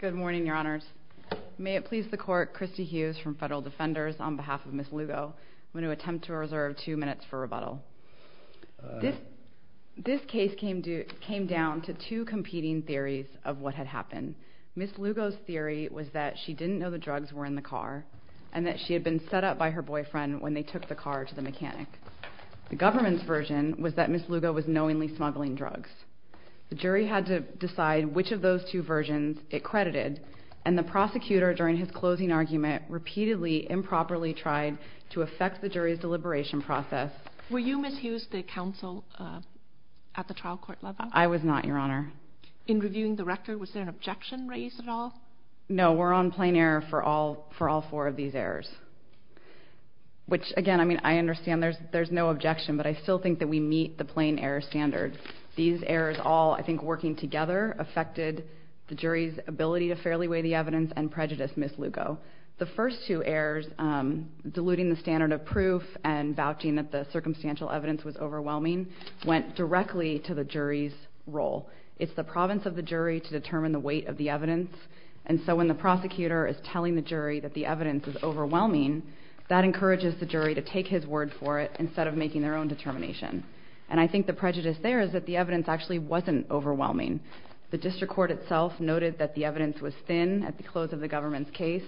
Good morning, your honors. May it please the court, Christy Hughes from Federal Defenders, on behalf of Ms. Lugo, I'm going to attempt to reserve two minutes for rebuttal. This case came down to two competing theories of what had happened. Ms. Lugo's theory was that she didn't know the drugs were in the car, and that she had been set up by her boyfriend when they took the car to the mechanic. The government's version was that Ms. Lugo was knowingly smuggling drugs. The jury had to decide which of those two versions it credited, and the prosecutor during his closing argument repeatedly improperly tried to affect the jury's deliberation process. Were you, Ms. Hughes, the counsel at the trial court level? I was not, your honor. In reviewing the record, was there an objection raised at all? No, we're on plain error for all four of these errors, which, again, I mean, I understand there's no objection, but I still think that we meet the plain error standard. These errors all, I think, working together affected the jury's ability to fairly weigh the evidence and prejudice Ms. Lugo. The first two errors, diluting the standard of proof and vouching that the circumstantial evidence was overwhelming, went directly to the jury's role. It's the province of the jury to determine the weight of the evidence, and so when the prosecutor is telling the jury that the evidence is overwhelming, that encourages the jury to take his word for it instead of making their own determination. And I think the prejudice there is that the evidence actually wasn't overwhelming. The district court itself noted that the evidence was thin at the close of the government's case.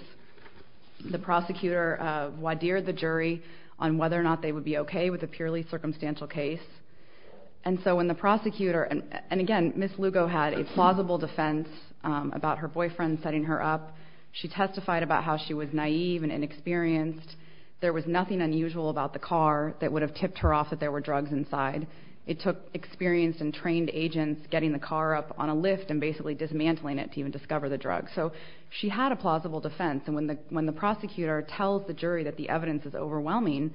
The prosecutor wideared the jury on whether or not they would be okay with a purely circumstantial case. And so when the prosecutor, and again, Ms. Lugo had a plausible defense about her boyfriend setting her up. She testified about how she was naive and inexperienced. There was nothing unusual about the car that would have tipped her off that there were drugs inside. It took experienced and trained agents getting the car up on a lift and basically dismantling it to even discover the drugs. So she had a plausible defense, and when the prosecutor tells the jury that the evidence is overwhelming,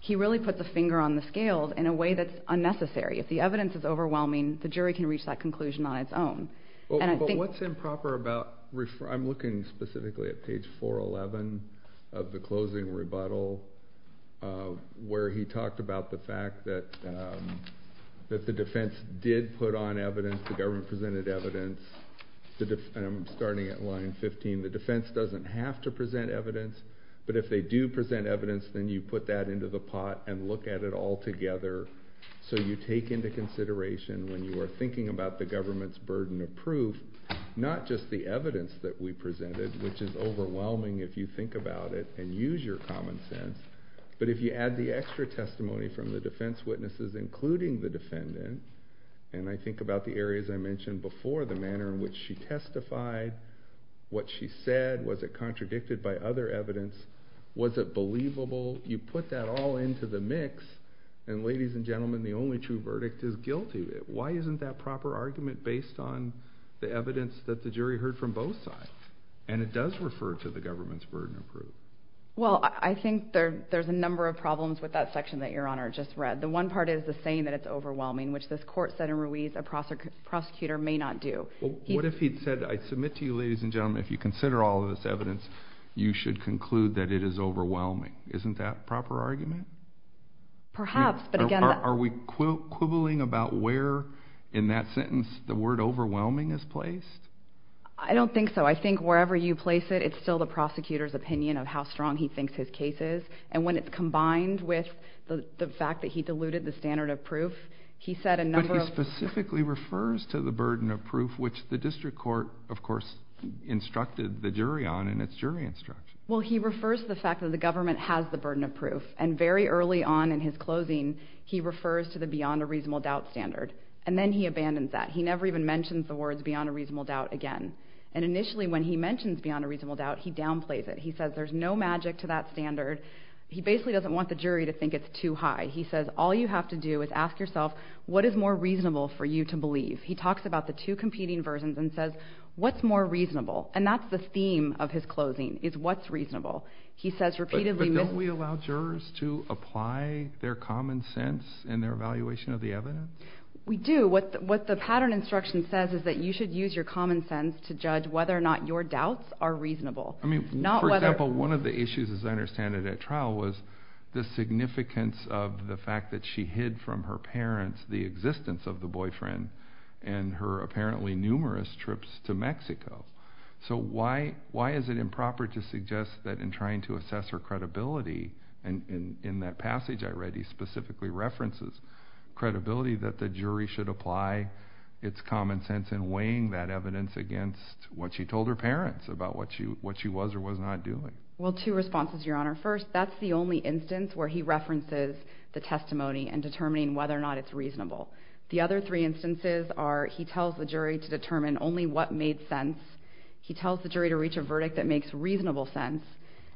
he really puts a finger on the scales in a way that's unnecessary. If the evidence is overwhelming, the jury can reach that conclusion on its own. But what's improper about, I'm looking specifically at page 411 of the closing rebuttal, where he talked about the fact that the defense did put on evidence. The government presented evidence, and I'm starting at line 15. The defense doesn't have to present evidence, but if they do present evidence, then you put that into the pot and look at it all together. So you take into consideration when you are thinking about the government's burden of proof, not just the evidence that we presented, which is overwhelming if you think about it and use your common sense, but if you add the extra testimony from the defense witnesses, including the defendant, and I think about the areas I mentioned before, the manner in which she testified, what she said, was it contradicted by other evidence, was it believable? You put that all into the mix, and ladies and gentlemen, the only true verdict is guilty. Why isn't that proper argument based on the evidence that the jury heard from both sides? And it does refer to the government's burden of proof. Well, I think there's a number of problems with that section that Your Honor just read. The one part is the saying that it's overwhelming, which this court said in Ruiz a prosecutor may not do. What if he said, I submit to you, ladies and gentlemen, if you consider all of this evidence, you should conclude that it is overwhelming. Isn't that a proper argument? Perhaps, but again... Are we quibbling about where in that sentence the word overwhelming is placed? I don't think so. I think wherever you place it, it's still the prosecutor's opinion of how strong he thinks his case is, and when it's combined with the fact that he diluted the standard of proof, he said a number of... That specifically refers to the burden of proof, which the district court, of course, instructed the jury on in its jury instruction. Well, he refers to the fact that the government has the burden of proof, and very early on in his closing, he refers to the beyond a reasonable doubt standard. And then he abandons that. He never even mentions the words beyond a reasonable doubt again. And initially, when he mentions beyond a reasonable doubt, he downplays it. He says there's no magic to that standard. He basically doesn't want the jury to think it's too high. He says all you have to do is ask yourself, what is more reasonable for you to believe? He talks about the two competing versions and says, what's more reasonable? And that's the theme of his closing, is what's reasonable. He says repeatedly... But don't we allow jurors to apply their common sense in their evaluation of the evidence? We do. What the pattern instruction says is that you should use your common sense to judge whether or not your doubts are reasonable. For example, one of the issues, as I understand it at trial, was the significance of the fact that she hid from her parents the existence of the boyfriend and her apparently numerous trips to Mexico. So why is it improper to suggest that in trying to assess her credibility, and in that passage I read he specifically references credibility, that the jury should apply its common sense in weighing that evidence against what she told her parents about what she was or was not doing? Well, two responses, Your Honor. First, that's the only instance where he references the testimony and determining whether or not it's reasonable. The other three instances are he tells the jury to determine only what made sense, he tells the jury to reach a verdict that makes reasonable sense,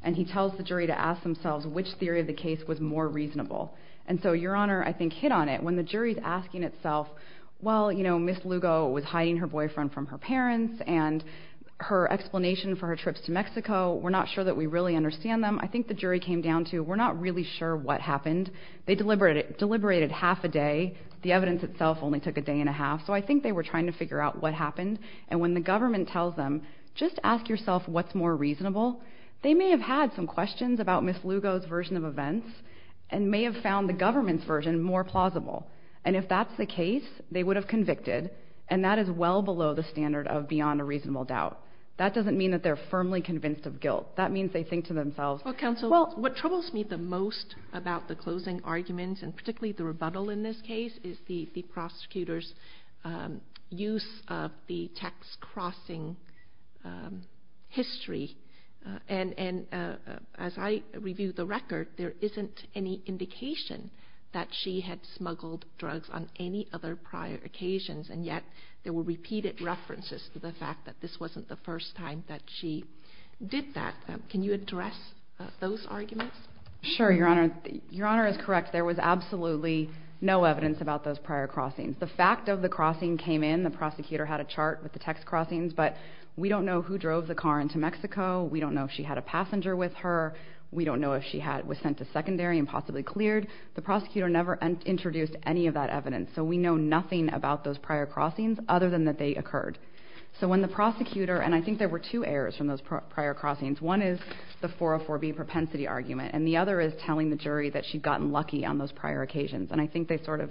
and he tells the jury to ask themselves which theory of the case was more reasonable. And so, Your Honor, I think hit on it, when the jury is asking itself, well, you know, Ms. Lugo was hiding her boyfriend from her parents and her explanation for her trips to Mexico. We're not sure that we really understand them. I think the jury came down to we're not really sure what happened. They deliberated half a day. The evidence itself only took a day and a half. So I think they were trying to figure out what happened. And when the government tells them, just ask yourself what's more reasonable, they may have had some questions about Ms. Lugo's version of events and may have found the government's version more plausible. And if that's the case, they would have convicted, and that is well below the standard of beyond a reasonable doubt. That doesn't mean that they're firmly convinced of guilt. That means they think to themselves. Well, counsel, what troubles me the most about the closing arguments and particularly the rebuttal in this case is the prosecutor's use of the text crossing history. And as I review the record, there isn't any indication that she had smuggled drugs on any other prior occasions, and yet there were repeated references to the fact that this wasn't the first time that she did that. Can you address those arguments? Sure, Your Honor. Your Honor is correct. There was absolutely no evidence about those prior crossings. The fact of the crossing came in. The prosecutor had a chart with the text crossings, but we don't know who drove the car into Mexico. We don't know if she had a passenger with her. We don't know if she was sent to secondary and possibly cleared. The prosecutor never introduced any of that evidence, so we know nothing about those prior crossings other than that they occurred. So when the prosecutor, and I think there were two errors from those prior crossings. One is the 404B propensity argument, and the other is telling the jury that she'd gotten lucky on those prior occasions, and I think they sort of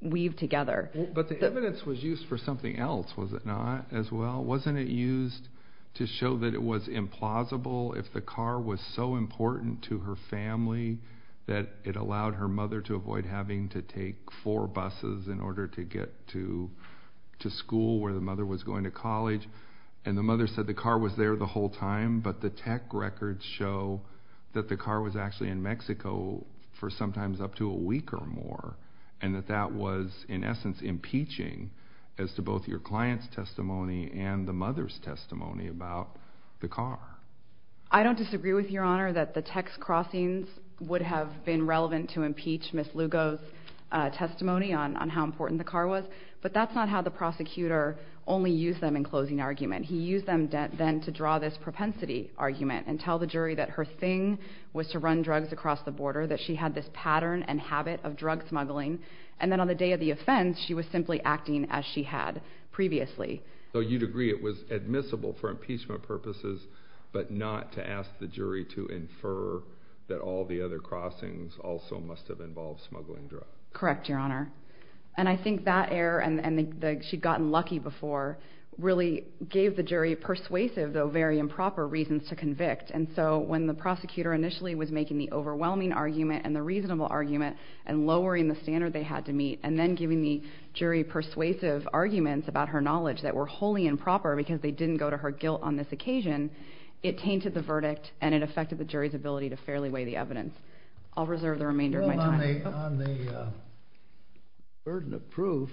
weave together. But the evidence was used for something else, was it not, as well? Wasn't it used to show that it was implausible if the car was so important to her family that it allowed her mother to avoid having to take four buses in order to get to school where the mother was going to college, and the mother said the car was there the whole time, but the tech records show that the car was actually in Mexico for sometimes up to a week or more, and that that was in essence impeaching as to both your client's testimony and the mother's testimony about the car. I don't disagree with Your Honor that the text crossings would have been relevant to impeach Ms. Lugo's testimony on how important the car was, but that's not how the prosecutor only used them in closing argument. He used them then to draw this propensity argument and tell the jury that her thing was to run drugs across the border, that she had this pattern and habit of drug smuggling, and then on the day of the offense she was simply acting as she had previously. So you'd agree it was admissible for impeachment purposes, but not to ask the jury to infer that all the other crossings also must have involved smuggling drugs. Correct, Your Honor. And I think that error, and that she'd gotten lucky before, really gave the jury persuasive, though very improper, reasons to convict, and so when the prosecutor initially was making the overwhelming argument and the reasonable argument and lowering the standard they had to meet and then giving the jury persuasive arguments about her knowledge that were wholly improper because they didn't go to her guilt on this occasion, it tainted the verdict and it affected the jury's ability to fairly weigh the evidence. I'll reserve the remainder of my time. Well, on the burden of proof,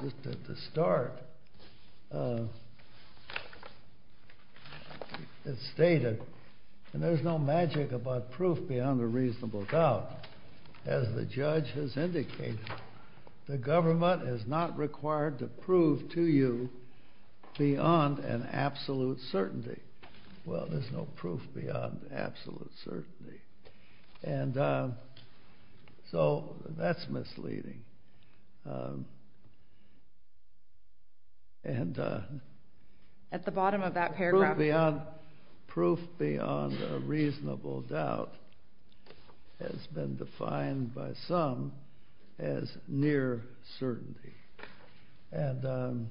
just at the start, it's stated, and there's no magic about proof beyond a reasonable doubt, as the judge has indicated, the government is not required to prove to you beyond an absolute certainty. Well, there's no proof beyond absolute certainty. And so that's misleading. At the bottom of that paragraph. Proof beyond a reasonable doubt has been defined by some as near certainty. And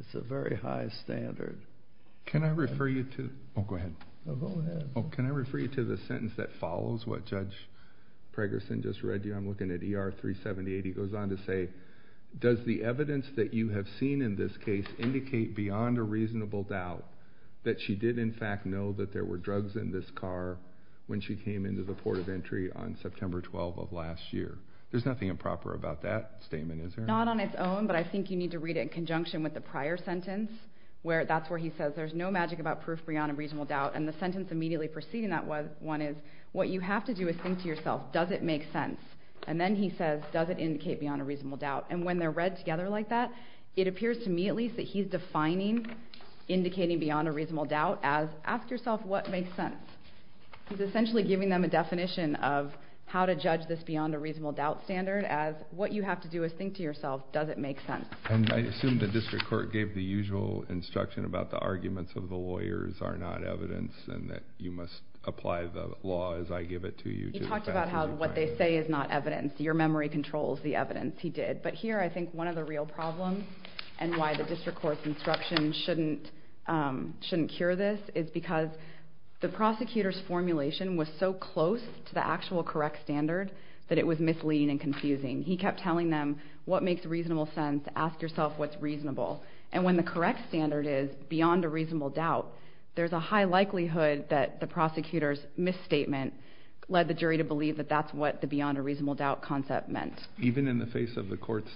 it's a very high standard. Can I refer you to... Oh, go ahead. Oh, can I refer you to the sentence that follows what Judge Pregerson just read to you? I'm looking at ER 378. He goes on to say, does the evidence that you have seen in this case indicate beyond a reasonable doubt that she did in fact know that there were drugs in this car when she came into the port of entry on September 12 of last year? There's nothing improper about that statement, is there? Not on its own, but I think you need to read it in conjunction with the prior sentence, where that's where he says there's no magic about proof beyond a reasonable doubt. And the sentence immediately preceding that one is, what you have to do is think to yourself, does it make sense? And then he says, does it indicate beyond a reasonable doubt? And when they're read together like that, it appears to me at least that he's defining indicating beyond a reasonable doubt as ask yourself what makes sense. He's essentially giving them a definition of how to judge this beyond a reasonable doubt standard as what you have to do is think to yourself, does it make sense? And I assume the district court gave the usual instruction about the arguments of the lawyers are not evidence and that you must apply the law as I give it to you. He talked about how what they say is not evidence. Your memory controls the evidence. He did. But here I think one of the real problems and why the district court's instruction shouldn't cure this is because the prosecutor's formulation was so close to the actual correct standard that it was misleading and confusing. He kept telling them, what makes reasonable sense? Ask yourself what's reasonable. And when the correct standard is beyond a reasonable doubt, there's a high likelihood that the prosecutor's misstatement led the jury to believe that that's what the beyond a reasonable doubt concept meant. Even in the face of the court's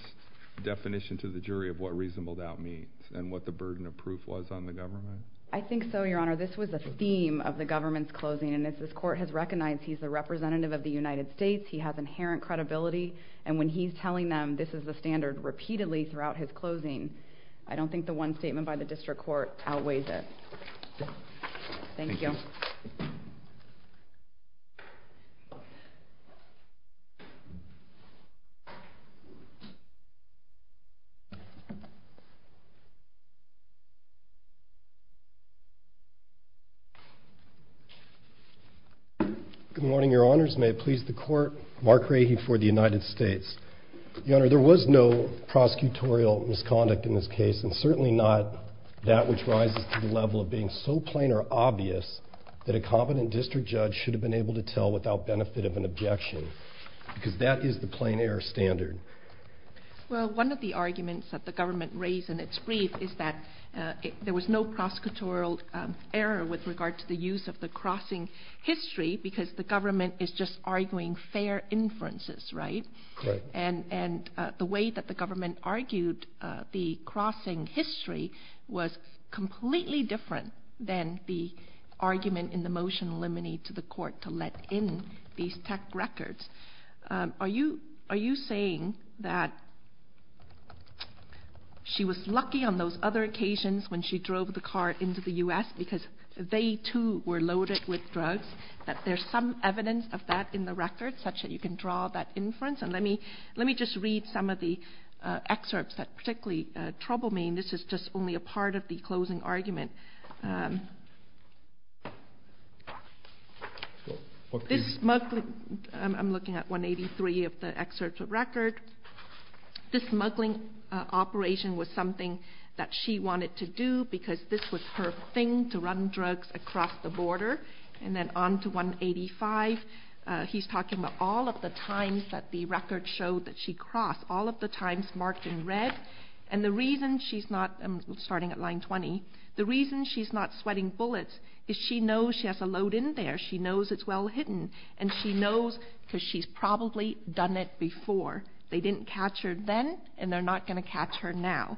definition to the jury of what reasonable doubt means and what the burden of proof was on the government? I think so, Your Honor. This was the theme of the government's closing. And as this court has recognized, he's the representative of the United States. He has inherent credibility. And when he's telling them this is the standard repeatedly throughout his closing, I don't think the one statement by the district court outweighs it. Thank you. Good morning, Your Honors. May it please the Court, Mark Rahe for the United States. Your Honor, there was no prosecutorial misconduct in this case and certainly not that which rises to the level of being so plain or obvious that a competent district judge should have been able to tell without benefit of an objection because that is the plain error standard. Well, one of the arguments that the government raised in its brief is that there was no prosecutorial error with regard to the use of the crossing history because the government is just arguing fair inferences, right? Correct. And the way that the government argued the crossing history was completely different than the argument in the motion eliminated to the court to let in these tech records. Are you saying that she was lucky on those other occasions when she drove the car into the U.S. because they too were loaded with drugs, that there's some evidence of that in the record such that you can draw that inference? And let me just read some of the excerpts that particularly trouble me, and this is just only a part of the closing argument. I'm looking at 183 of the excerpts of record. This smuggling operation was something that she wanted to do because this was her thing to run drugs across the border. And then on to 185, he's talking about all of the times that the record showed that she crossed, all of the times marked in red. And the reason she's not, I'm starting at line 20, the reason she's not sweating bullets is she knows she has a load in there, she knows it's well hidden, and she knows because she's probably done it before. They didn't catch her then, and they're not going to catch her now.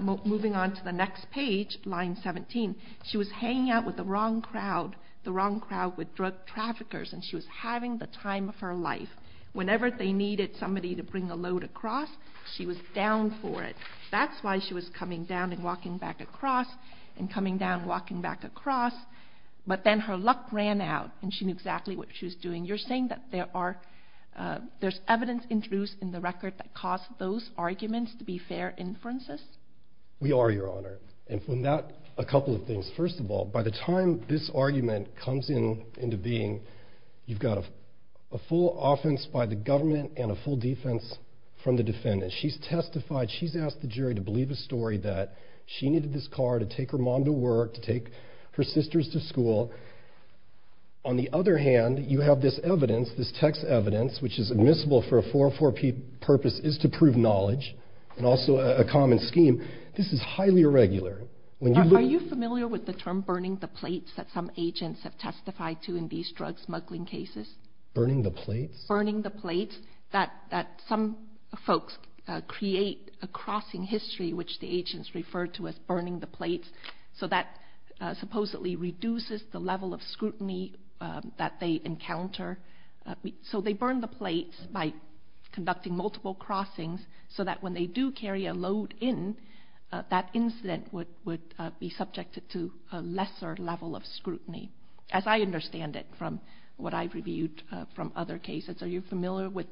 Moving on to the next page, line 17, she was hanging out with the wrong crowd, the wrong crowd with drug traffickers, and she was having the time of her life. Whenever they needed somebody to bring a load across, she was down for it. That's why she was coming down and walking back across and coming down and walking back across, but then her luck ran out and she knew exactly what she was doing. You're saying that there's evidence introduced in the record that caused those arguments to be fair inferences? We are, Your Honor, and from that, a couple of things. First of all, by the time this argument comes into being, you've got a full offense by the government and a full defense from the defendant. She's testified, she's asked the jury to believe a story that she needed this car to take her mom to work, to take her sisters to school. On the other hand, you have this evidence, this text evidence, which is admissible for a 404-P purpose, is to prove knowledge, and also a common scheme. This is highly irregular. Are you familiar with the term burning the plates that some agents have testified to in these drug smuggling cases? Burning the plates? Burning the plates that some folks create a crossing history, which the agents refer to as burning the plates, so that supposedly reduces the level of scrutiny that they encounter. So they burn the plates by conducting multiple crossings so that when they do carry a load in, that incident would be subjected to a lesser level of scrutiny, as I understand it from what I've reviewed from other cases. Are you familiar with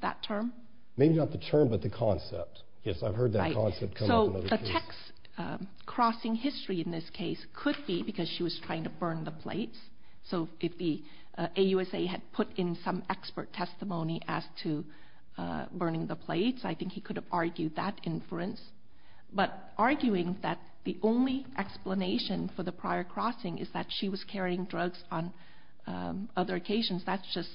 that term? Maybe not the term, but the concept. Yes, I've heard that concept come up in other cases. So the text crossing history in this case could be because she was trying to burn the plates. So if the AUSA had put in some expert testimony as to burning the plates, I think he could have argued that inference. But arguing that the only explanation for the prior crossing is that she was carrying drugs on other occasions, that's just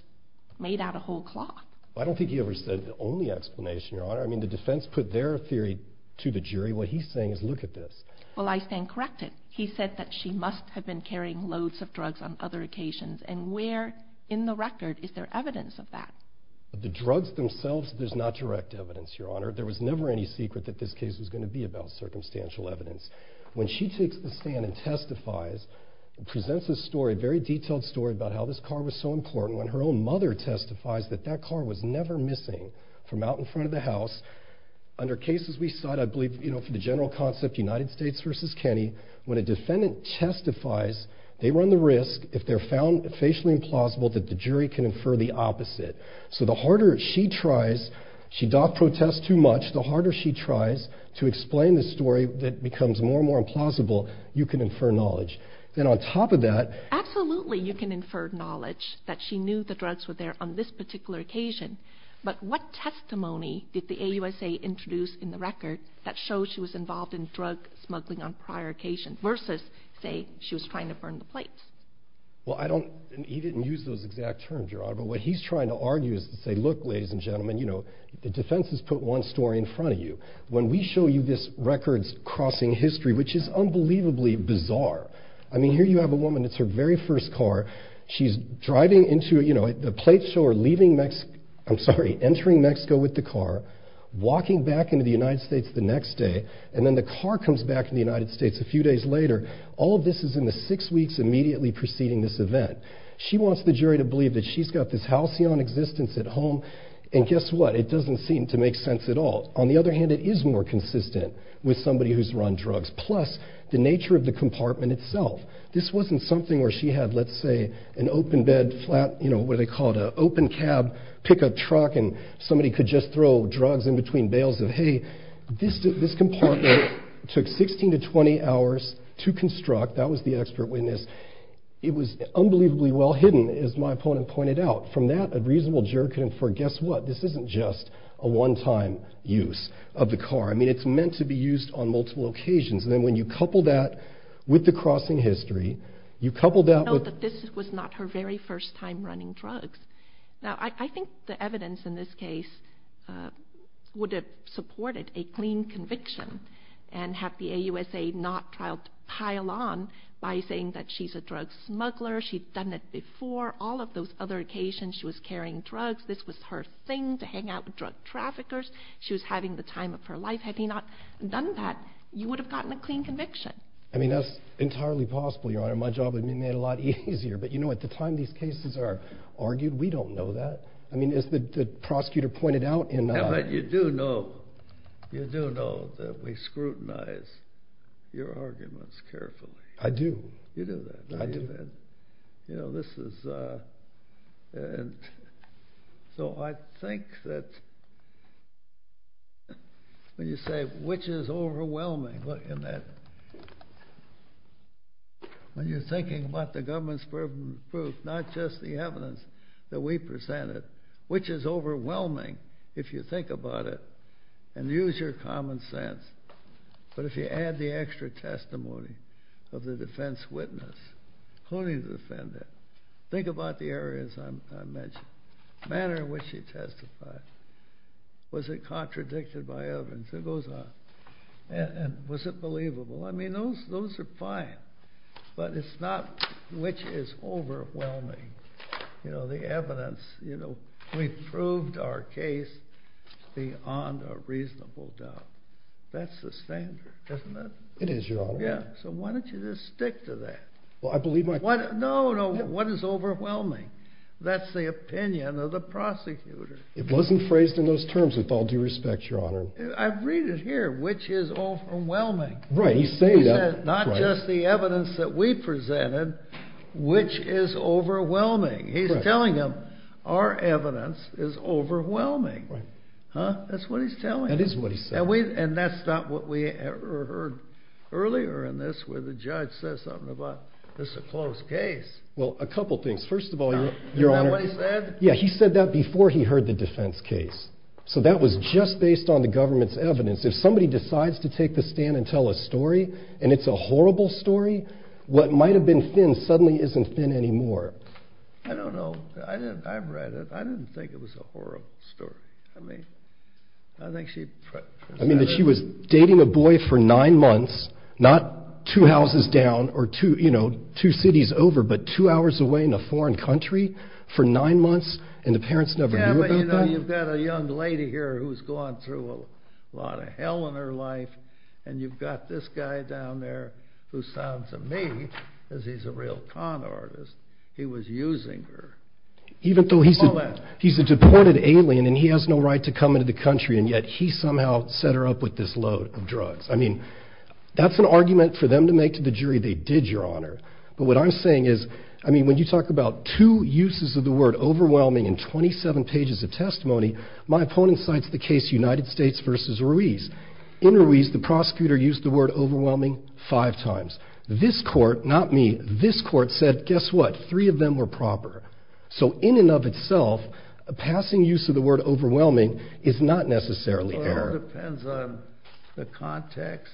made out of whole cloth. I don't think he ever said the only explanation, Your Honor. I mean, the defense put their theory to the jury. What he's saying is, look at this. Well, I stand corrected. He said that she must have been carrying loads of drugs on other occasions. And where in the record is there evidence of that? The drugs themselves, there's not direct evidence, Your Honor. There was never any secret that this case was going to be about circumstantial evidence. When she takes the stand and testifies and presents this story, a very detailed story about how this car was so important, when her own mother testifies that that car was never missing from out in front of the house, under cases we cite, I believe, for the general concept, United States v. Kenny, when a defendant testifies, they run the risk, if they're found facially implausible, that the jury can infer the opposite. So the harder she tries, she doth protest too much, the harder she tries to explain the story that becomes more and more implausible, you can infer knowledge. And on top of that... Absolutely you can infer knowledge, that she knew the drugs were there on this particular occasion. But what testimony did the AUSA introduce in the record that shows she was involved in drug smuggling on prior occasions versus, say, she was trying to burn the plates? He didn't use those exact terms, Your Honor, but what he's trying to argue is to say, look, ladies and gentlemen, the defense has put one story in front of you. When we show you this records crossing history, which is unbelievably bizarre, I mean, here you have a woman, it's her very first car, she's driving into, the plates show her leaving Mexico, I'm sorry, entering Mexico with the car, walking back into the United States the next day, and then the car comes back to the United States a few days later, all of this is in the six weeks immediately preceding this event. She wants the jury to believe that she's got this halcyon existence at home, and guess what, it doesn't seem to make sense at all. On the other hand, it is more consistent with somebody who's run drugs, plus the nature of the compartment itself. This wasn't something where she had, let's say, an open bed, what do they call it, an open cab pickup truck, and somebody could just throw drugs in between bales of hay. This compartment took 16 to 20 hours to construct, that was the expert witness. It was unbelievably well hidden, as my opponent pointed out. From that, a reasonable juror could infer, guess what, this isn't just a one-time use of the car. I mean, it's meant to be used on multiple occasions, and then when you couple that with the crossing history, you couple that with... Now, I think the evidence in this case would have supported a clean conviction and have the AUSA not tried to pile on by saying that she's a drug smuggler, she'd done it before, all of those other occasions, she was carrying drugs, this was her thing to hang out with drug traffickers, she was having the time of her life. Had he not done that, you would have gotten a clean conviction. I mean, that's entirely possible, Your Honor. My job would have been made a lot easier, but at the time these cases are argued, we don't know that. As the prosecutor pointed out... But you do know that we scrutinize your arguments carefully. I do. You do that, don't you, Ben? I do. So I think that when you say, which is overwhelming, look, in that... When you're thinking about the government's proven proof, not just the evidence that we presented, which is overwhelming if you think about it and use your common sense, but if you add the extra testimony of the defense witness, including the defendant, think about the areas I mentioned, the manner in which he testified, was it contradicted by evidence? It goes on. And was it believable? I mean, those are fine. But it's not which is overwhelming. You know, the evidence. We proved our case beyond a reasonable doubt. That's the standard, isn't it? It is, Your Honor. So why don't you just stick to that? No, no, what is overwhelming? That's the opinion of the prosecutor. It wasn't phrased in those terms with all due respect, Your Honor. I read it here, which is overwhelming. He said, not just the evidence that we presented, which is overwhelming. He's telling them, our evidence is overwhelming. That's what he's telling them. And that's not what we heard earlier in this where the judge says something about, this is a close case. Well, a couple things. First of all, Your Honor. Isn't that what he said? Yeah, he said that before he heard the defense case. So that was just based on the government's evidence. If somebody decides to take the stand and tell a story, and it's a horrible story, what might have been thin suddenly isn't thin anymore. I don't know. I read it. I didn't think it was a horrible story. I mean, I think she... I mean, that she was dating a boy for nine months, not two houses down or two cities over, but two hours away in a foreign country for nine months, and the parents never knew about that? Yeah, but you know, you've got a young lady here who's gone through a lot of hell in her life, and you've got this guy down there who sounds to me as if he's a real con artist. He was using her. Even though he's a deported alien, and he has no right to come into the country, and yet he somehow set her up with this load of drugs. I mean, that's an argument for them to make to the jury. They did, Your Honor. But what I'm saying is, I mean, when you talk about two uses of the word overwhelming in 27 pages of testimony, my opponent cites the case United States v. Ruiz. In Ruiz, the prosecutor used the word overwhelming five times. This court, not me, this court said, guess what? Three of them were proper. So in and of itself, a passing use of the word overwhelming is not necessarily error. Well, it all depends on the context,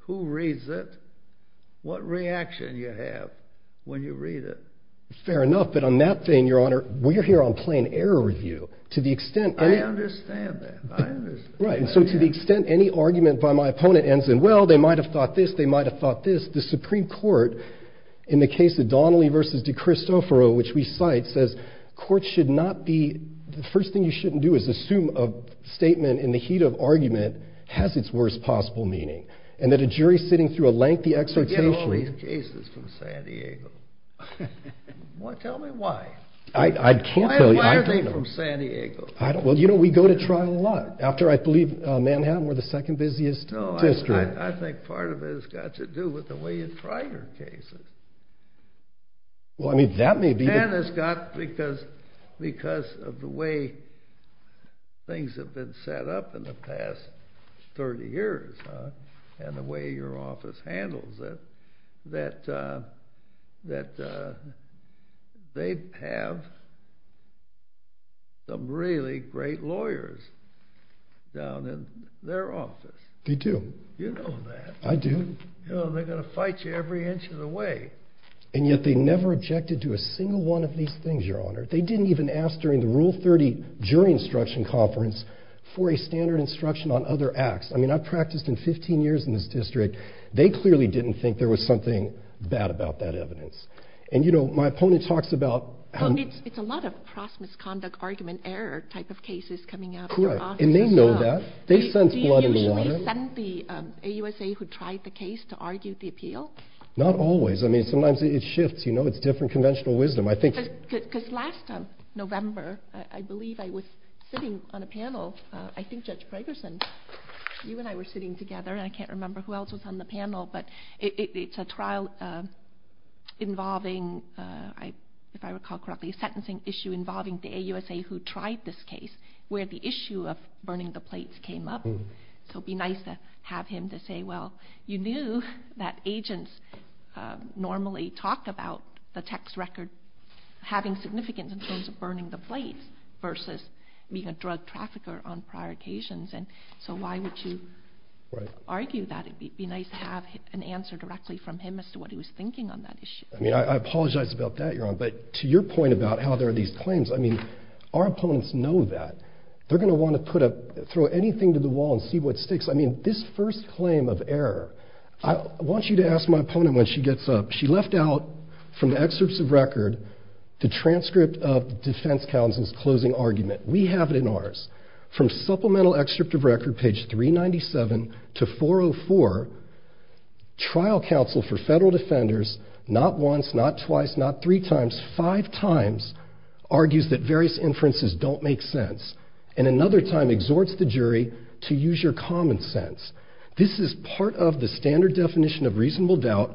who reads it, what reaction you have when you read it. Fair enough, but on that thing, Your Honor, we're here on plain error review. I understand that. I understand. Right, and so to the extent any argument by my opponent ends in, well, they might have thought this, they might have thought this, the Supreme Court, in the case of Donnelly v. De Cristoforo, which we cite, says courts should not be... The first thing you shouldn't do is assume a statement in the heat of argument has its worst possible meaning, and that a jury sitting through a lengthy exhortation... Forget all these cases from San Diego. Tell me why. Why are they from San Diego? Well, you know, we go to trial a lot. After, I believe, Manhattan, we're the second busiest district. No, I think part of it has got to do with the way you try your cases. Well, I mean, that may be... And it's got, because of the way things have been set up in the past 30 years, that they have some reason to believe that there are really great lawyers down in their office. They do. You know that. I do. They're going to fight you every inch of the way. And yet they never objected to a single one of these things, Your Honor. They didn't even ask during the Rule 30 jury instruction conference for a standard instruction on other acts. I mean, I've practiced in 15 years in this district. They clearly didn't think there was something bad about that evidence. And, you know, my opponent talks about... It's a lot of cross-misconduct argument error type of cases coming out of their offices. Correct. And they know that. They sense blood in the water. Do you usually send the AUSA who tried the case to argue the appeal? Not always. I mean, sometimes it shifts. You know, it's different conventional wisdom. Because last November, I believe I was sitting on a panel. I think Judge Gregersen, you and I were sitting together, and I can't remember who else was on the panel, but it's a trial involving, if I recall correctly, a sentencing issue involving the AUSA who tried this case where the issue of burning the plates came up. So it would be nice to have him to say, well, you knew that agents normally talk about the text record having significance in terms of burning the plates versus being a drug trafficker on prior occasions. And so why would you argue that? It would be nice to have an answer directly from him as to what he was thinking on that issue. I mean, I apologize about that, Your Honor, but to your point about how there are these claims, I mean, our opponents know that. They're going to want to throw anything to the wall and see what sticks. I mean, this first claim of error, I want you to ask my opponent when she gets up. She left out from the excerpts of record the transcript of the defense counsel's closing argument. We have it in ours. From supplemental excerpt of record, page 397 to 404, trial counsel for federal defenders, not once, not twice, not three times, five times, argues that various inferences don't make sense and another time exhorts the jury to use your common sense. This is part of the standard definition of reasonable doubt.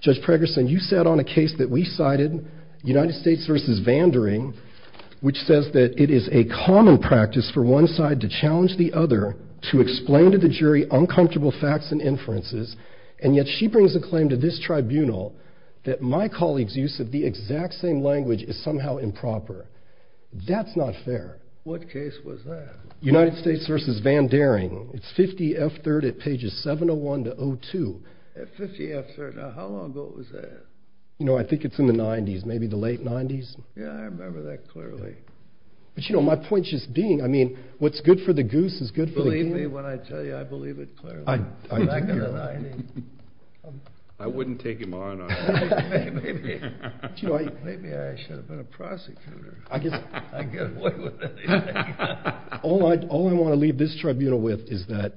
Judge Pregerson, you sat on a case that we cited, United States v. Vandering, which says that it is a common practice for one side to challenge the other to explain to the jury uncomfortable facts and inferences, and yet she brings a claim to this tribunal that my colleague's use of the exact same language is somehow improper. That's not fair. What case was that? United States v. Vandering. It's 50 F. 3rd at pages 701 to 02. 50 F. 3rd. Now, how long ago was that? You know, I think it's in the 90s, maybe the late 90s. Yeah, I remember that clearly. But, you know, my point's just being, I mean, what's good for the goose is good for the goose. Believe me when I tell you I believe it clearly. I do. I wouldn't take him on. Maybe. Maybe I should have been a prosecutor. I guess. I'd get away with anything. All I want to leave this tribunal with is that,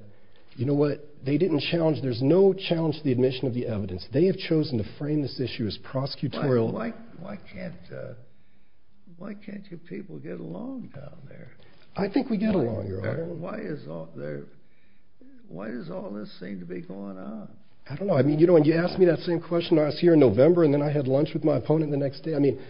you know what, they didn't challenge, there's no challenge to the admission of the evidence. They have chosen to frame this issue as prosecutorial. Why can't you people get along down there? I think we get along, Your Honor. Why does all this seem to be going on? I don't know. I mean, you know, when you asked me that same question when I was here in November, and then I had lunch with my opponent the next day, I mean,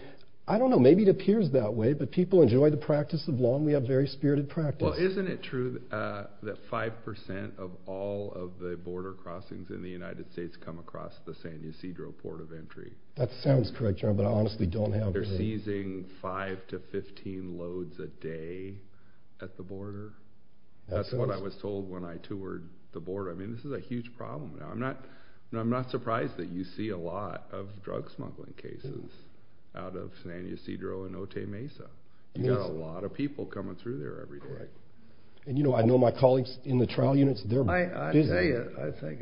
I don't know, maybe it appears that way, but people enjoy the practice of law, and we have very spirited practice. Well, isn't it true that 5% of all of the border crossings in the United States come across the San Ysidro port of entry? That sounds correct, Your Honor, but I honestly don't have... They're seizing 5 to 15 loads a day at the border. That's what I was told when I toured the border. I mean, this is a huge problem now. I'm not surprised that you see a lot of drug smuggling cases out of San Ysidro and Otay Mesa. You've got a lot of people coming through there every day. And, you know, I know my colleagues in the trial units, they're busy. I tell you, I think it's,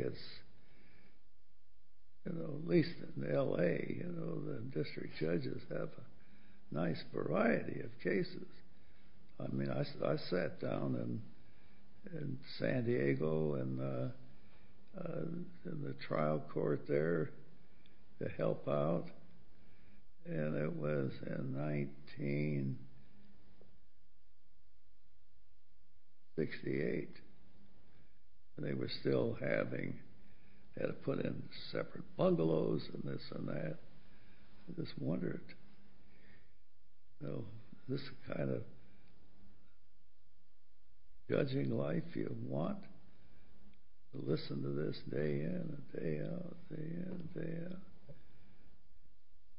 you know, at least in L.A., you know, the district judges have a nice variety of cases. I mean, I sat down in San Diego in the trial court there to help out, and it was in 1968, and they were still having... They had to put in separate bungalows and this and that. I just wondered, you know, this is the kind of judging life you want. Listen to this day in and day out, day in and day out.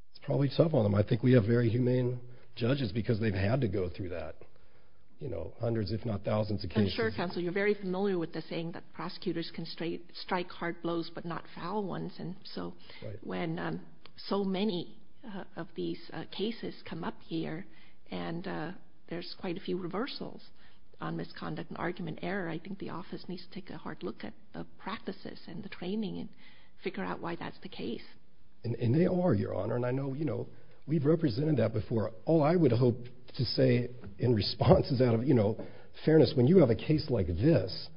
There's probably several of them. I think we have very humane judges because they've had to go through that, you know, hundreds if not thousands of cases. I'm sure, counsel, you're very familiar with the saying that prosecutors can strike hard blows but not foul ones, and so when so many of these cases come up here and there's quite a few reversals on misconduct and argument error, I think the office needs to take a hard look at the practices and the training and figure out why that's the case. And they are, Your Honor, and I know, you know, we've represented that before. All I would hope to say in response is out of, you know, fairness, when you have a case like this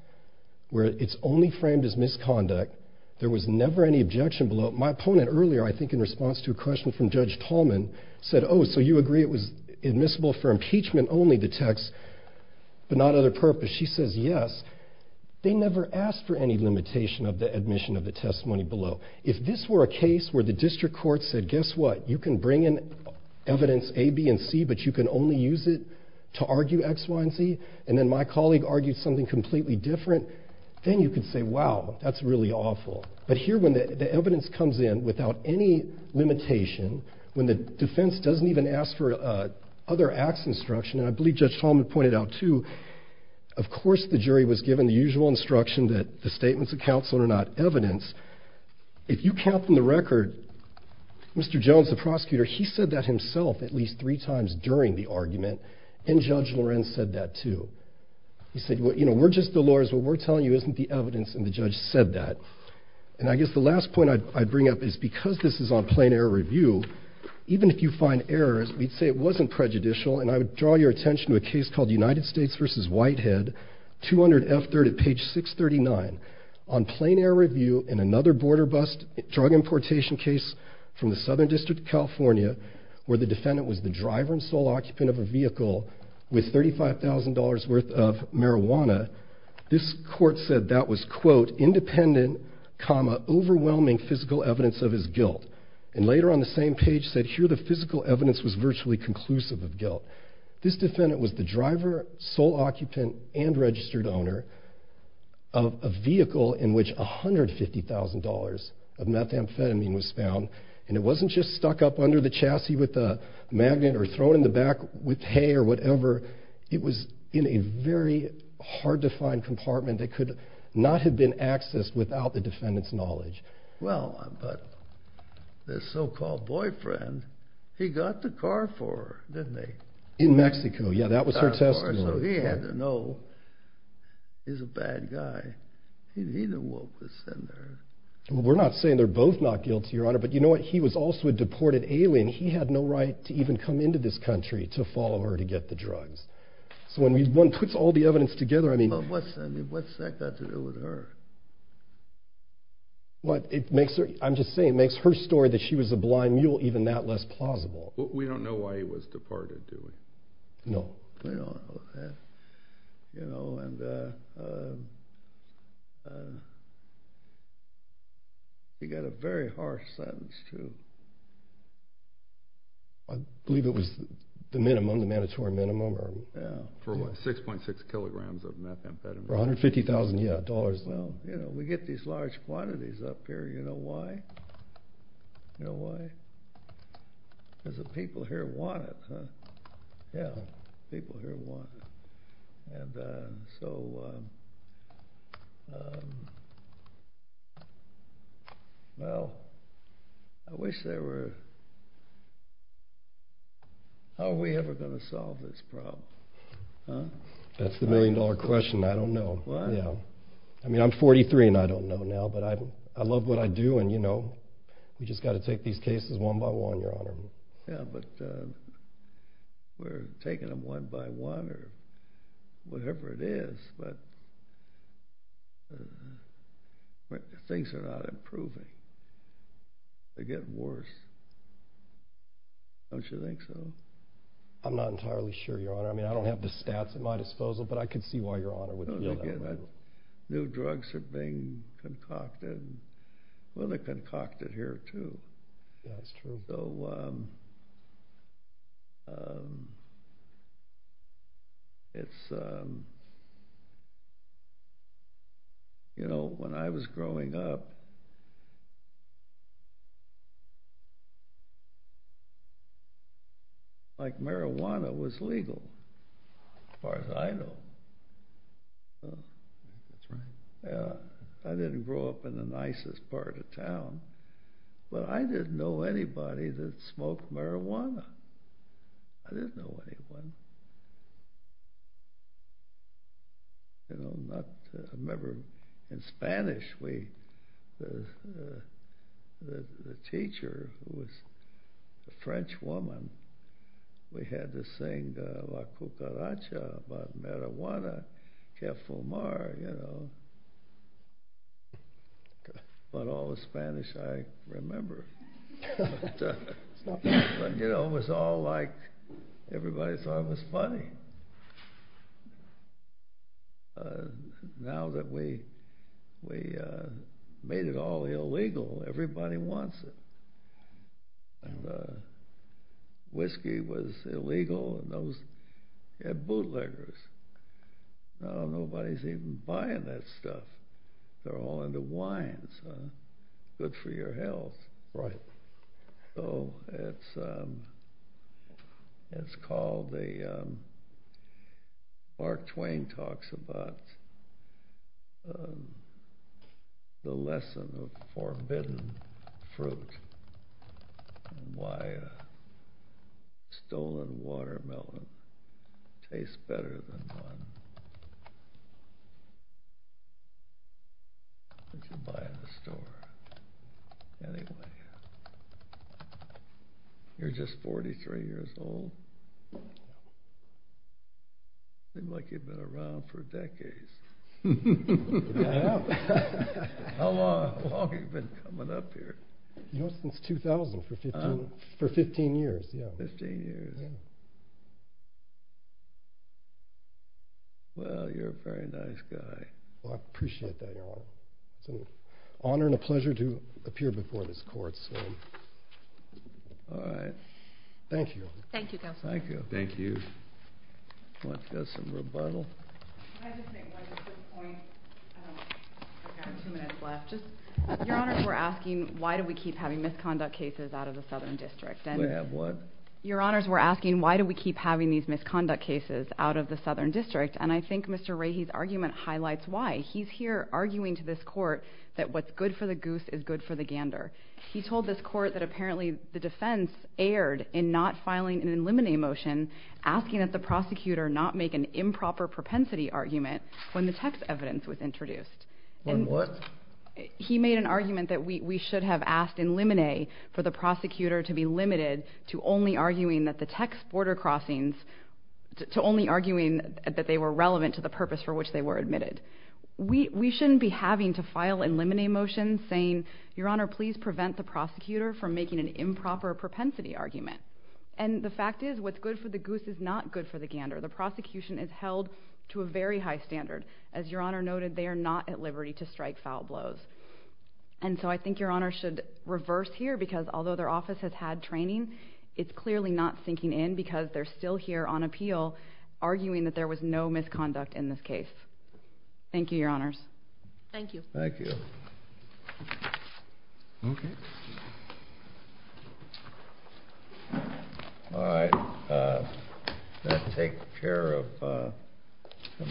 where it's only framed as misconduct, there was never any objection below it. My opponent earlier, I think, in response to a question from Judge Tallman, said, oh, so you agree it was admissible for impeachment only, the text, but not other purpose. She says, yes, they never asked for any limitation of the admission of the testimony below. If this were a case where the district court said, guess what, you can bring in evidence A, B, and C, but you can only use it to argue X, Y, and Z, and then my colleague argued something completely different, then you could say, wow, that's really awful. But here when the evidence comes in without any limitation, when the defense doesn't even ask for other acts instruction, and I believe Judge Tallman pointed out, too, of course the jury was given the usual instruction that the statements of counsel are not evidence. If you count from the record, Mr. Jones, the prosecutor, he said that himself at least three times during the argument, and Judge Lorenz said that, too. He said, you know, we're just the lawyers, what we're telling you isn't the evidence, and the judge said that. And I guess the last point I'd bring up is because this is on plain error review, even if you find errors, we'd say it wasn't prejudicial, and I would draw your attention to a case called United States v. Whitehead, 200F30, page 639. On plain error review in another border bus drug importation case from the Southern District of California where the defendant was the driver and sole occupant of a vehicle with $35,000 worth of marijuana, this court said that was, quote, independent, comma, overwhelming physical evidence of his guilt. And later on the same page said here the physical evidence was virtually conclusive of guilt. This defendant was the driver, sole occupant, and registered owner of a vehicle in which $150,000 of methamphetamine was found, and it wasn't just stuck up under the chassis with a magnet or thrown in the back with hay or whatever. It was in a very hard-to-find compartment that could not have been accessed without the defendant's knowledge. Well, but this so-called boyfriend, he got the car for her, didn't he? In Mexico, yeah, that was her testimony. So he had to know he's a bad guy. He didn't know what was in there. Well, we're not saying they're both not guilty, Your Honor, but you know what, he was also a deported alien. He had no right to even come into this country to follow her to get the drugs. So when one puts all the evidence together, I mean... But what's that got to do with her? Well, it makes her, I'm just saying, it makes her story that she was a blind mule even that less plausible. We don't know why he was departed, do we? No. You know, and... He got a very harsh sentence, too. I believe it was the minimum, the mandatory minimum. Yeah, for what, 6.6 kilograms of methamphetamine? For $150,000, yeah. Well, you know, we get these large quantities up here. You know why? You know why? Because the people here want it, huh? Yeah, people here want it. And so... Well, I wish there were... How are we ever going to solve this problem, huh? That's the million-dollar question. I don't know. I mean, I'm 43, and I don't know now, but I love what I do, and, you know, we've just got to take these cases one by one, Your Honor. Yeah, but we're taking them one by one or whatever it is, but things are not improving. They're getting worse. Don't you think so? I'm not entirely sure, Your Honor. I mean, I don't have the stats at my disposal, but I can see why Your Honor would feel that way. New drugs are being concocted, and well, they're concocted here too. Yeah, that's true. So... It's... You know, when I was growing up... Like, marijuana was legal as far as I know. That's right. I didn't grow up in the nicest part of town, but I didn't know anybody that smoked marijuana. I didn't know anyone. You know, not... I remember in Spanish we... The teacher who was a French woman, we had to sing La Cucaracha about marijuana, que fumar, you know. About all the Spanish I remember. You know, it was all like everybody thought it was funny. Now that we made it all illegal, everybody wants it. Whiskey was illegal, and those had bootleggers. Now nobody's even buying that stuff. They're all into wines. Good for your health. Right. So it's called the... Hidden fruit. Why a stolen watermelon tastes better than one... That you buy in the store. Anyway... You're just 43 years old? Seems like you've been around for decades. I have. How long have you been coming up here? Since 2000, for 15 years. 15 years. Well, you're a very nice guy. I appreciate that, Your Honor. It's an honor and a pleasure to appear before this court. All right. Thank you. Thank you, Counselor. Thank you. Let's get some rebuttal. Can I just make one quick point? I've got two minutes left. Your Honors, we're asking, why do we keep having misconduct cases out of the Southern District? We have what? Your Honors, we're asking, why do we keep having these misconduct cases out of the Southern District? And I think Mr. Rahe's argument highlights why. He's here arguing to this court that what's good for the goose is good for the gander. He told this court that apparently the defense erred in not filing an eliminate motion asking that the prosecutor not make an improper propensity argument when the text evidence was introduced. When what? He made an argument that we should have asked eliminate for the prosecutor to be limited to only arguing that the text border crossings, to only arguing that they were relevant to the purpose for which they were admitted. We shouldn't be having to file eliminate motions saying, Your Honor, please prevent the prosecutor from making an improper propensity argument. And the fact is, what's good for the goose is not good for the gander. The prosecution is held to a very high standard. As Your Honor noted, they are not at liberty to strike foul blows. And so I think Your Honor should reverse here because although their office has had training, it's clearly not sinking in because they're still here on appeal arguing that there was no misconduct in this case. Thank you, Your Honors. Thank you. Thank you. Okay. All right. Let's take care of the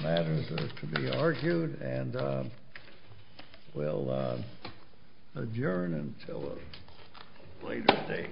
matters that are to be argued and we'll adjourn until a later date.